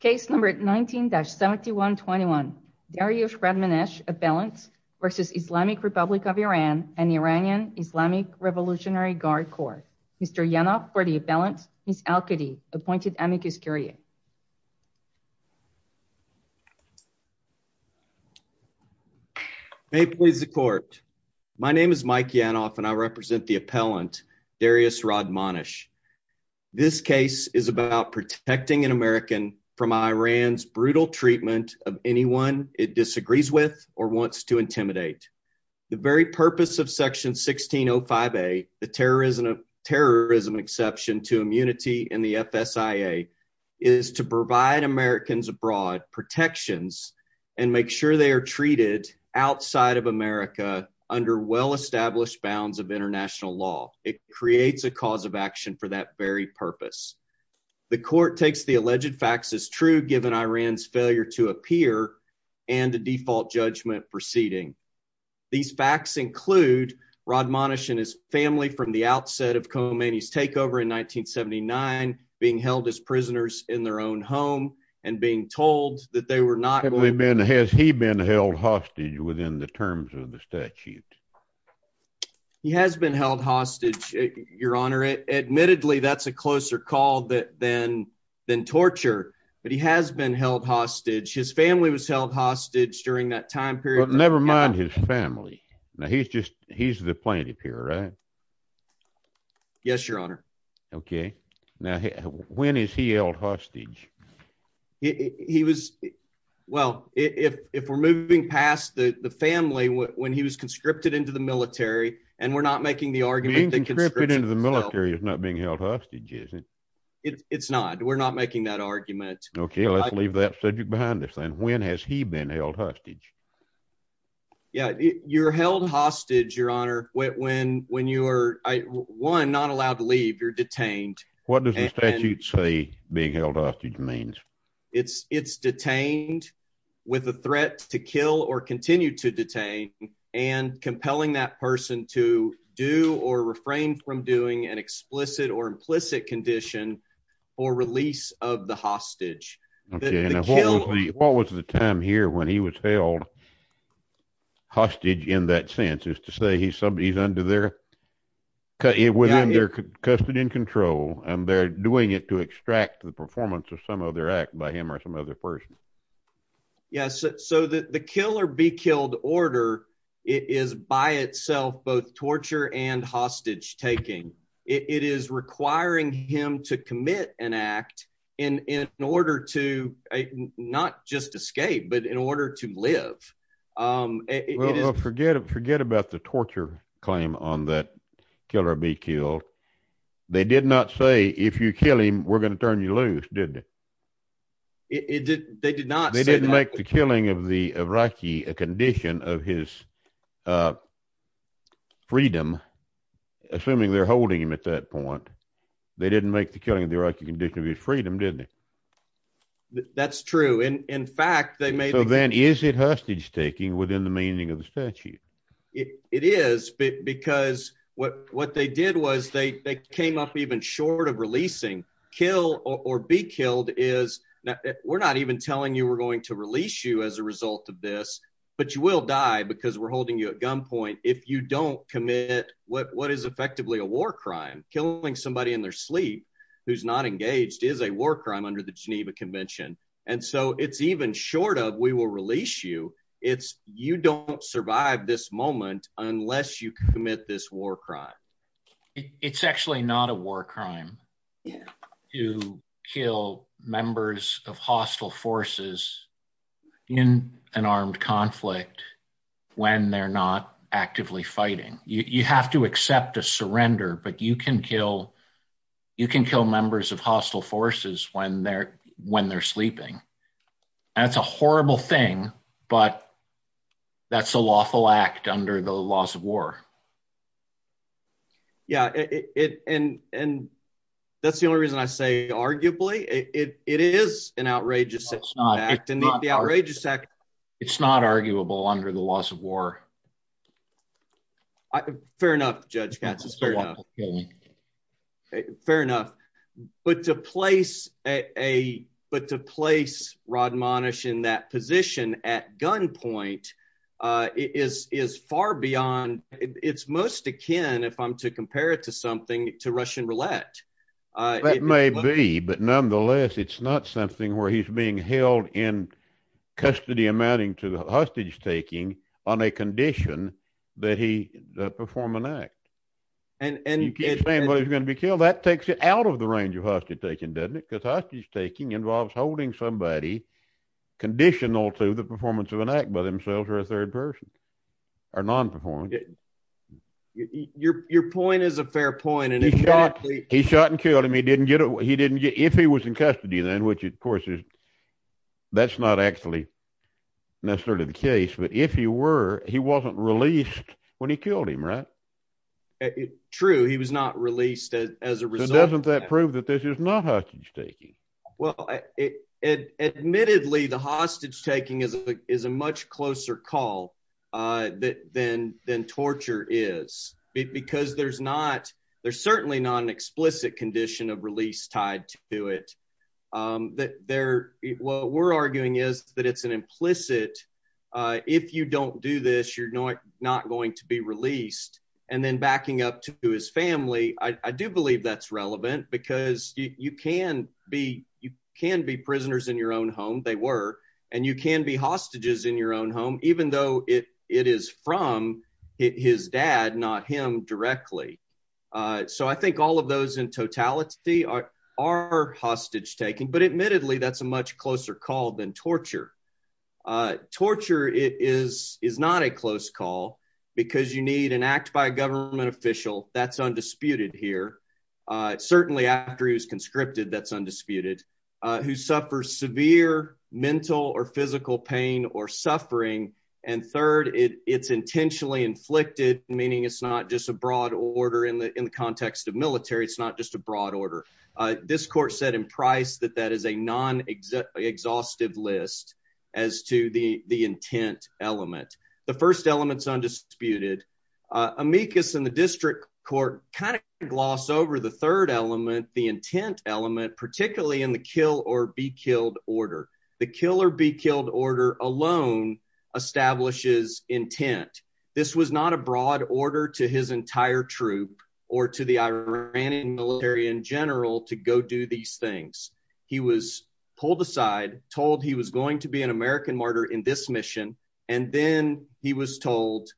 Case number 19-7121 Darioush Radmanesh Appellant v. Islamic Republic of Iran and Iranian Islamic Revolutionary Guard Corps. Mr. Yanov for the appellant, Ms. Alkady, appointed amicus curiae. May it please the court. My name is Mike Yanov and I represent the appellant Darioush Radmanesh. This case is about protecting an American from Iran's brutal treatment of anyone it disagrees with or wants to intimidate. The very purpose of section 1605A, the terrorism exception to immunity in the FSIA, is to provide Americans abroad protections and make sure they are treated outside of America under well-established bounds of international law. It creates a cause of action for that very The court takes the alleged facts as true given Iran's failure to appear and the default judgment proceeding. These facts include Radmanesh and his family from the outset of Khomeini's takeover in 1979 being held as prisoners in their own home and being told that they were not going to... Has he been held hostage within the terms of the statute? He has been held hostage, your honor. Admittedly, that's a closer call than than torture, but he has been held hostage. His family was held hostage during that time period. But never mind his family. Now he's just he's the plaintiff here, right? Yes, your honor. Okay, now when is he held hostage? He was... Well, if we're moving past the family when he was conscripted into the military and we're not making the argument... Being conscripted into the military is not being held hostage, is it? It's not. We're not making that argument. Okay, let's leave that subject behind us then. When has he been held hostage? Yeah, you're held hostage, your honor, when you are, one, not allowed to leave. You're detained. What does the statute say being held hostage means? It's detained with a threat to kill or continue to detain and compelling that person to do or refrain from doing an explicit or implicit condition for release of the hostage. What was the time here when he was held hostage in that sense, is to say he's under their... Within their custody and control and they're doing it to extract the performance of some other act by him or some other person. Yes, so the kill or be killed order is by itself both torture and hostage taking. It is requiring him to commit an act in order to not just escape, but in order to live. Well, forget about the torture claim on that kill or be killed. They did not say if you kill him, we're going to turn you loose, did they? They did not say that. They didn't make the killing of the Iraqi a condition of his freedom, assuming they're holding him at that point. They didn't make the killing of the Iraqi condition of his freedom, did they? That's true. In fact, they may... So then is it hostage taking within the meaning of the statute? It is, because what they did was they came up even short of releasing. Kill or be killed is... We're not even telling you we're going to release you as a result of this, but you will die because we're holding you at gunpoint if you don't commit what is effectively a war crime. Killing somebody in their sleep who's not engaged is a war crime under the statute. You don't survive this moment unless you commit this war crime. It's actually not a war crime to kill members of hostile forces in an armed conflict when they're not actively fighting. You have to accept a surrender, but you can kill members of hostile forces when they're sleeping. That's a horrible thing, but that's a lawful act under the laws of war. Yeah, and that's the only reason I say arguably. It is an outrageous act. It's not. It's not arguable under the laws of war. Fair enough, Judge Katz. It's fair enough. Fair enough, but to place Rod Monish in that position at gunpoint is far beyond. It's most akin, if I'm to compare it to something, to Russian roulette. That may be, but nonetheless, it's not something where he's being held in custody amounting to that he performed an act. You keep saying he was going to be killed. That takes it out of the range of hostage taking, doesn't it? Because hostage taking involves holding somebody conditional to the performance of an act by themselves or a third person or non-performing. Your point is a fair point. He shot and killed him. If he was in custody then, which of course that's not actually necessarily the case, but if he were, he wasn't released when he killed him, right? True. He was not released as a result. Doesn't that prove that this is not hostage taking? Well, admittedly, the hostage taking is a much closer call than torture is because there's certainly not an explicit condition of release tied to it. What we're arguing is that it's an implicit, if you don't do this, you're not going to be released. Then backing up to his family, I do believe that's relevant because you can be prisoners in your own home, they were, and you can be hostages in your own home, even though it is from his dad, not him directly. I think all of those in totality are hostage taking, but admittedly, that's a much closer call than torture. Torture is not a close call because you need an act by a government official, that's undisputed here, certainly after he was conscripted, that's undisputed, who suffers severe mental or physical pain or suffering, and third, it's intentionally inflicted, meaning it's not just a broad order in the context of military, it's not just a broad order. This court said in Price that that is a non-exhaustive list as to the intent element. The first element's undisputed. Amicus and the district court kind of gloss over the third element, particularly in the kill or be killed order. The kill or be killed order alone establishes intent. This was not a broad order to his entire troop or to the Iranian military in general to go do these things. He was pulled aside, told he was going to be an American martyr in this mission, and then he was told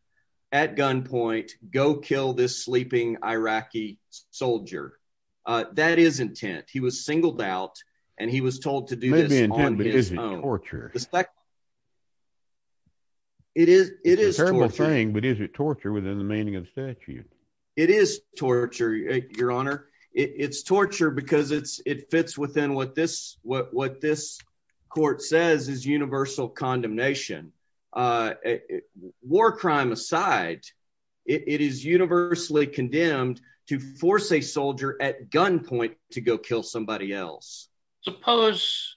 at gunpoint, go kill this sleeping Iraqi soldier. That is intent. He was singled out, and he was told to do this on his own. It is a terrible thing, but is it torture within the meaning of statute? It is torture, your honor. It's torture because it fits within what this court says is universal condemnation. War crime aside, it is universally condemned to force a soldier at gunpoint to go kill somebody else. Suppose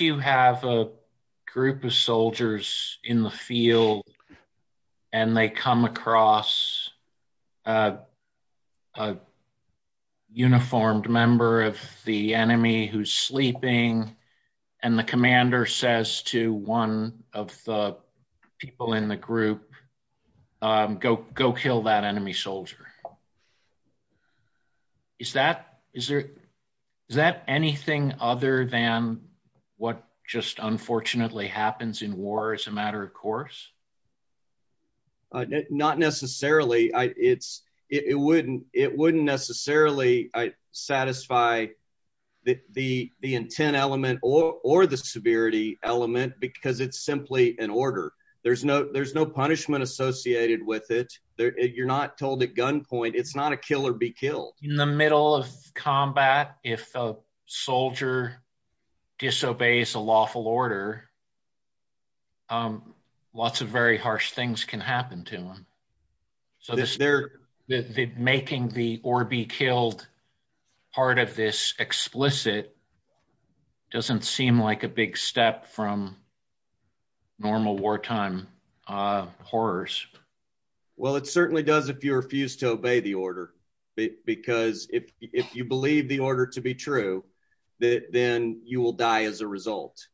you have a group of soldiers in the field, and they come across a uniformed member of the enemy who's sleeping, and the commander says to one of the people in the group, go kill that enemy soldier. Is that anything other than what just unfortunately happens in war as a matter of course? Not necessarily. It wouldn't necessarily satisfy the intent element or the severity element because it's simply an order. There's no punishment associated with it. You're not told at gunpoint. It's not a kill or be killed. In the middle of combat, if a soldier disobeys a lawful order, lots of very harsh things can happen to him. Making the or be killed part of this explicit doesn't seem like a big step from normal wartime horrors. Well, it certainly does if you refuse to obey the order because if you believe the order to be true, then you will die as a result.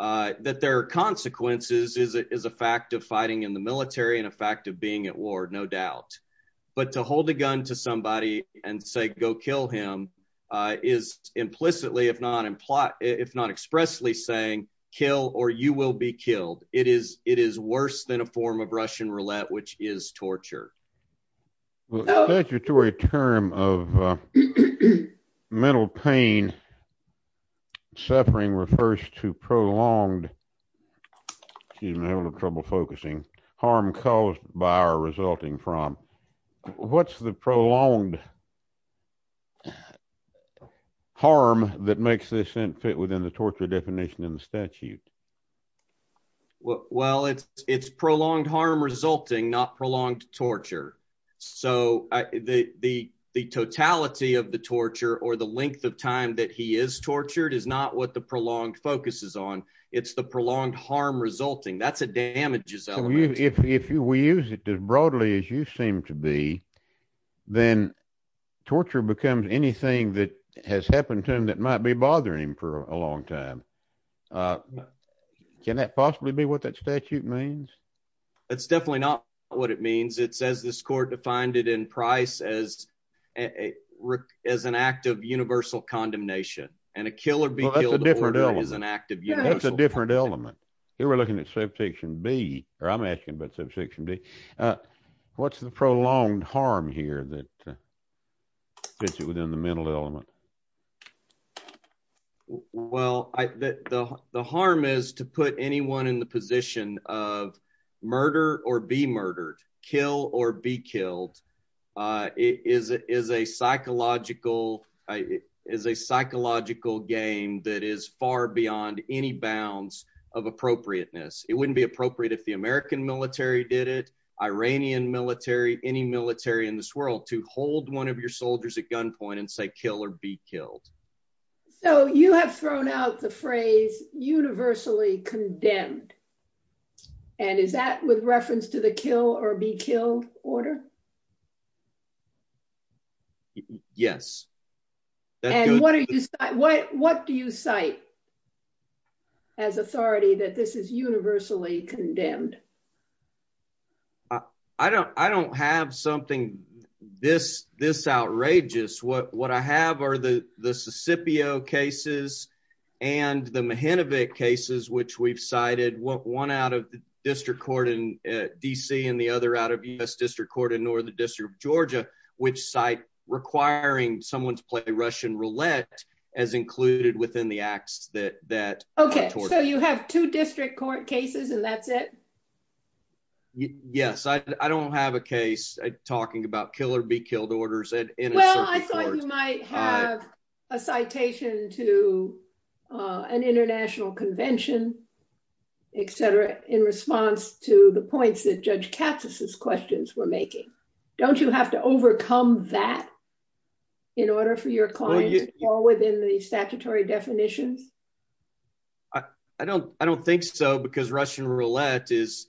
That there are consequences is a fact of fighting in the military and a fact of being at war, no doubt. But to hold a gun to somebody and say go kill him is implicitly if not expressly saying kill or you will be killed. It is worse than a form of Russian roulette which is torture. The statutory term of mental pain suffering refers to prolonged, excuse me, I'm having trouble focusing, harm caused by or resulting from. What's the prolonged harm that makes this fit within the torture definition in the statute? Well, it's prolonged harm resulting, not prolonged torture. So, the totality of the torture or the length of time that he is tortured is not what the prolonged focus is on. It's the prolonged harm resulting. That's a damages element. If we use it as broadly as you seem to be, then torture becomes anything that has happened to him that might be bothering him for a long time. Can that possibly be what that statute means? It's definitely not what it means. It says this court defined it in price as an act of universal condemnation and a killer being killed is an act of universal condemnation. That's a different element. Here we're looking at Subsection B or I'm asking about Subsection D. What's the prolonged harm here that fits within the mental element? Well, the harm is to put anyone in the position of murder or be murdered, kill or be killed. It is a psychological game that is far beyond any bounds of appropriateness. It wouldn't be appropriate if the American military did it, Iranian military, any military in this world to hold one of your soldiers at gunpoint and say kill or be killed. You have thrown out the phrase universally condemned. Is that with reference to the kill or be killed order? Yes. What do you cite as authority that this is universally condemned? I don't have something this outrageous. What I have are the the Sicipio cases and the Mehinovic cases which we've cited, one out of the District Court in DC and the other out of U.S. District Court in Northern District of Georgia, which cite requiring someone to play Russian roulette as included within the acts that... Okay, so you have two District Court cases and that's it? Yes, I don't have a case talking about kill or be killed orders in a... Well, I thought you might have a citation to an international convention, etc., in response to the points that Judge Katz's questions were making. Don't you have to overcome that in order for your client to fall within the statutory definitions? I don't think so because Russian roulette is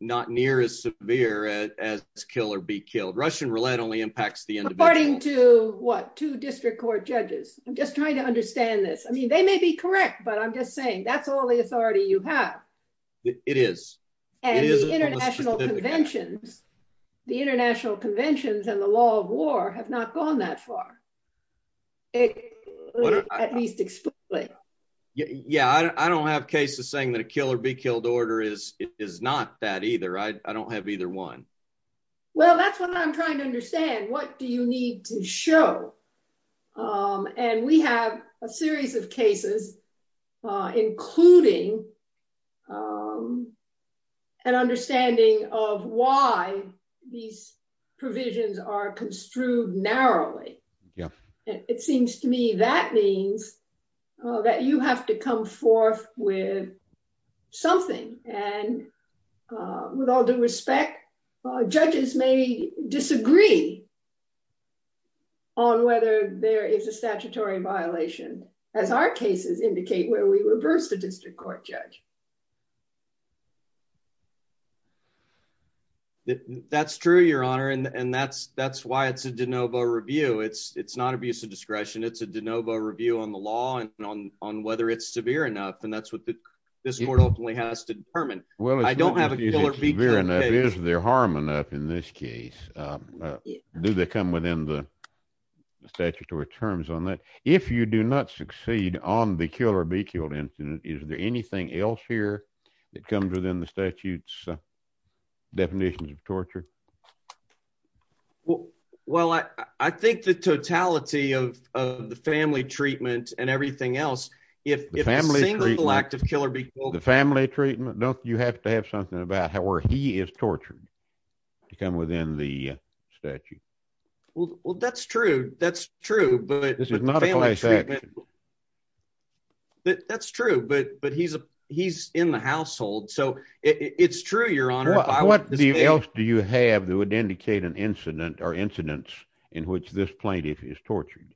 not near as severe as kill or be killed. Russian roulette only impacts the individual. According to what? Two District Court judges. I'm just trying to understand this. I mean, they may be correct, but I'm just saying that's all the authority you have. It is. And the international conventions and the law of war have not gone that far, at least explicitly. Yeah, I don't have cases saying that a kill or be killed order is not that either. I don't have either one. Well, that's what I'm trying to understand. What do you need to show? And we have a series of cases including an understanding of why these provisions are construed narrowly. It seems to me that means that you have to come forth with something. And with all due respect, judges may disagree on whether there is a statutory violation, as our cases indicate, where we reverse the District Court judge. That's true, Your Honor. And that's why it's a de novo review. It's not abuse of discretion. It's a de novo review on the law and on whether it's severe enough. And that's what this court ultimately has to determine. Well, I don't have a killer. Is there harm enough in this case? Do they come within the statutory terms on that? If you do not succeed on the kill or be killed incident, is there anything else here that comes within the statute's definitions of torture? Well, I think the totality of the family treatment and everything else, if the single act of kill or be killed... The family treatment? Don't you have to have something about how he is tortured to come within the statute? Well, that's true. That's true, but... That's true, but he's in the household. So it's true, Your Honor. What else do you have that would indicate an incident or incidents in which this plaintiff is tortured?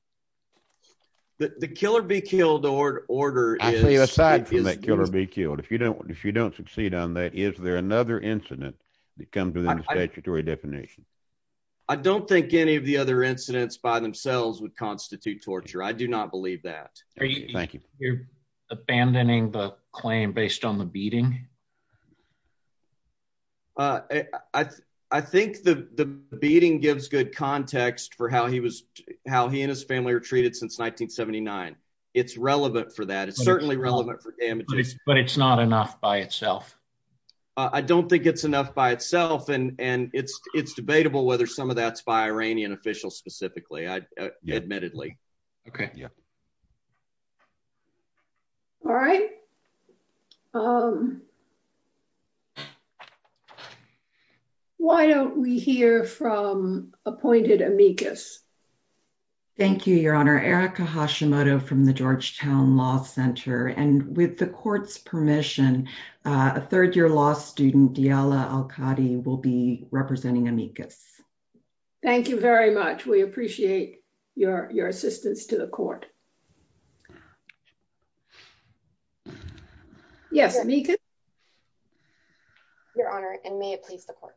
The kill or be killed order is... I say aside from that kill or be killed, if you don't succeed on that, is there another incident that comes within the statutory definition? I don't think any of the other incidents by themselves would constitute torture. I do not believe that. Thank you. You're abandoning the claim based on the beating? I think the beating gives good context for how he and his family were treated since 1979. It's relevant for that. It's certainly relevant for damages. But it's not enough by itself? I don't think it's enough by itself. And it's debatable whether some of that's by Iranian officials specifically, admittedly. Okay. Yeah. All right. Why don't we hear from appointed amicus? Thank you, Your Honor. Erica Hashimoto from the Georgetown Law Center. And with the court's permission, a third-year law student, Diala Al-Qadi will be representing amicus. Thank you very much. We appreciate your assistance to the court. Yes, amicus? Your Honor, and may it please the court.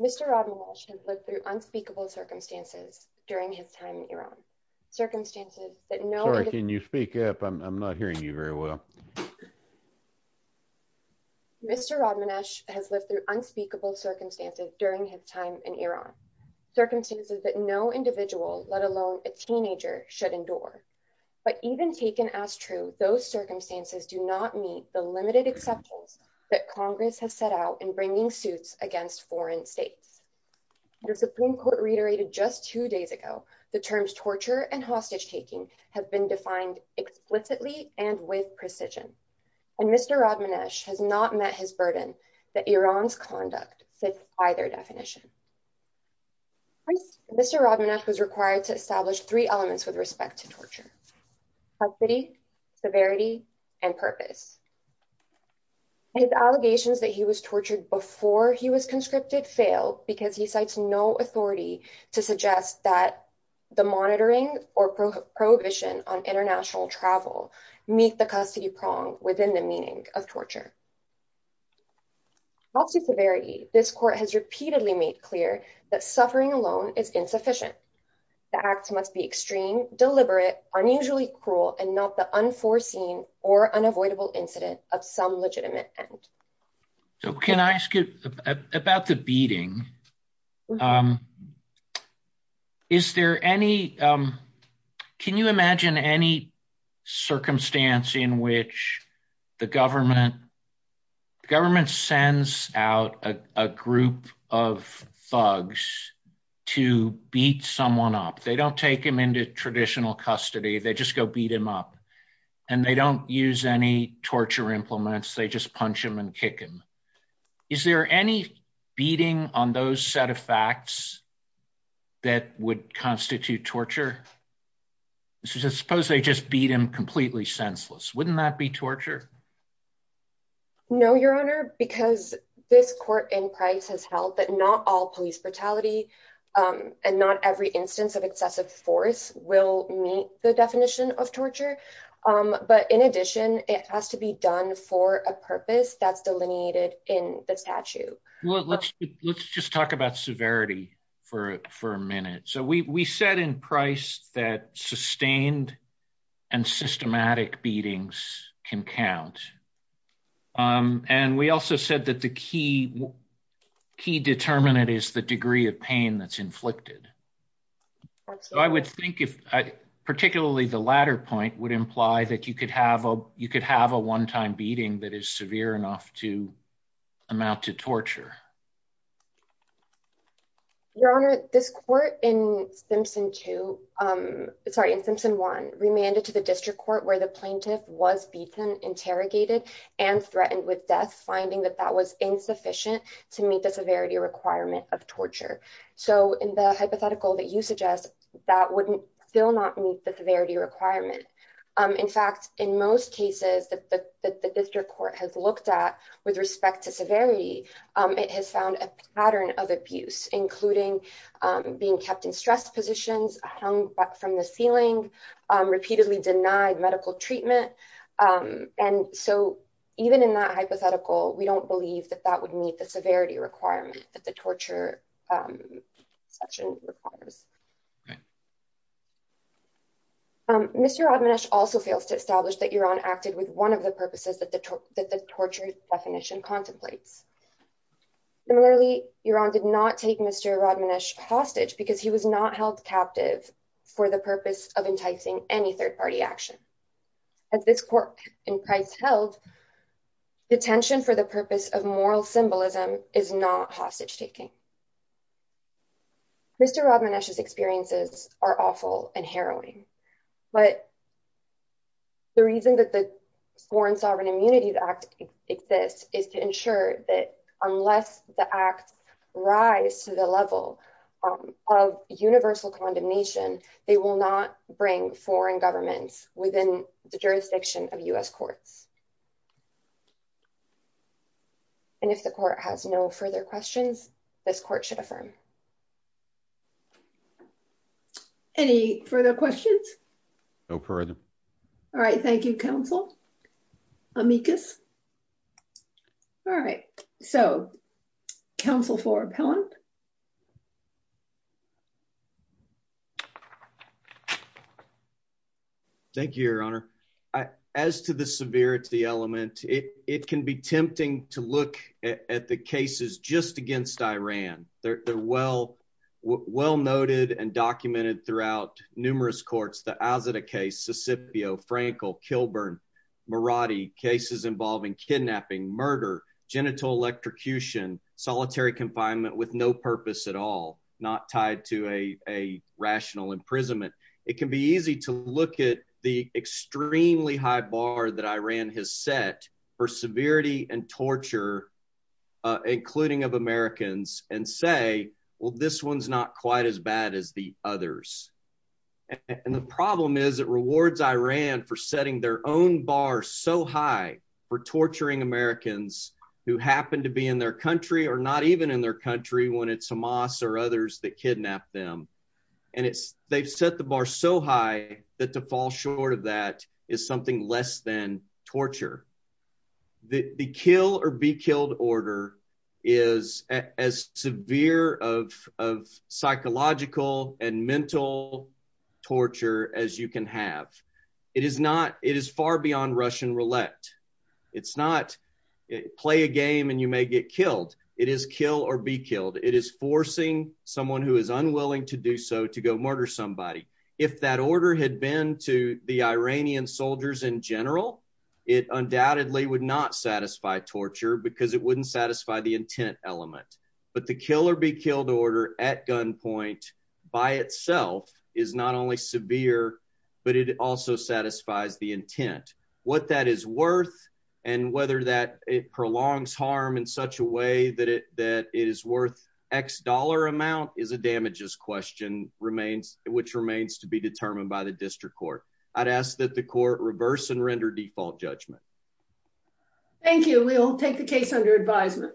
Mr. Rodman Walsh has lived through unspeakable circumstances during his time in Iran. Sorry, can you speak up? I'm not hearing you very well. Mr. Rodman Walsh has lived through unspeakable circumstances during his time in Iran. Circumstances that no individual, let alone a teenager, should endure. But even taken as true, those circumstances do not meet the limited exceptions that Congress has set out in just two days ago. The terms torture and hostage-taking have been defined explicitly and with precision. And Mr. Rodman Walsh has not met his burden that Iran's conduct fits by their definition. Mr. Rodman Walsh was required to establish three elements with respect to torture, custody, severity, and purpose. His allegations that he was tortured before he was conscripted failed because he cites no authority to suggest that the monitoring or prohibition on international travel meet the custody prong within the meaning of torture. As to severity, this court has repeatedly made clear that suffering alone is insufficient. The acts must be extreme, deliberate, unusually cruel, and not the unforeseen or unavoidable incident of some legitimate end. So can I ask you about the beating? Is there any, can you imagine any circumstance in which the government sends out a group of thugs to beat someone up? They don't take him into traditional custody. They just go beat him up and they don't use any torture implements. They just punch him and kick him. Is there any beating on those set of facts that would constitute torture? Suppose they just beat him completely senseless. Wouldn't that be torture? No, your honor, because this court in price has held that not all police brutality and not every instance of excessive force will meet the definition of torture. But in addition, it has to be done for a purpose that's delineated in the statute. Let's just talk about severity for a minute. So we said in price that sustained and systematic beatings can count. And we also said that the key determinant is the degree of pain that's inflicted. So I would think if I particularly the latter point would imply that you could have a, you could have a one-time beating that is severe enough to amount to torture. Your honor, this court in Simpson two, sorry, in Simpson one remanded to the district court where the plaintiff was beaten, interrogated, and threatened with death, finding that that was insufficient to meet the severity requirement of torture. So in the hypothetical that you suggest, that wouldn't still not meet the severity requirement. In fact, in most cases that the district court has looked at with respect to severity, it has found a pattern of abuse, including being kept in stress positions, hung from the ceiling, repeatedly denied medical treatment. And so even in that hypothetical, we don't believe that that would meet the severity requirement that the torture section requires. Mr. Admonish also fails to establish that you're on acted with one of the purposes that the torture definition contemplates. Similarly, your honor did not take Mr. Admonish hostage because he was not held captive for the purpose of enticing any third party action. As this court in price held, detention for the purpose of moral symbolism is not hostage taking. Mr. Admonish's experiences are awful and harrowing, but the reason that the unless the acts rise to the level of universal condemnation, they will not bring foreign governments within the jurisdiction of US courts. And if the court has no further questions, this court should affirm. Any further questions? No further. All right. Thank you, counsel. Amicus. All right. So counsel for appellant. Thank you, your honor. As to the severity element, it can be tempting to look at the cases just against Iran. They're well, well noted and documented throughout numerous courts, as in a case, Sicipio, Frankel, Kilburn, Maradi cases involving kidnapping, murder, genital electrocution, solitary confinement with no purpose at all, not tied to a rational imprisonment. It can be easy to look at the extremely high bar that Iran has set for severity and torture, including of Americans and say, well, this one's not quite as bad as the others. And the problem is it rewards Iran for setting their own bar so high for torturing Americans who happen to be in their country or not even in their country when it's Hamas or others that kidnap them. And it's they've set the bar so high that to fall short of that is something less than torture as you can have. It is not. It is far beyond Russian roulette. It's not play a game and you may get killed. It is kill or be killed. It is forcing someone who is unwilling to do so to go murder somebody. If that order had been to the Iranian soldiers in general, it undoubtedly would not satisfy torture because it wouldn't satisfy the intent element. But the kill or be killed order at gunpoint by itself is not only severe, but it also satisfies the intent. What that is worth and whether that it prolongs harm in such a way that it that it is worth X dollar amount is a damages question remains, which remains to be determined by the district court. I'd ask that the court reverse and render default judgment. Thank you. We'll take the case under advisement.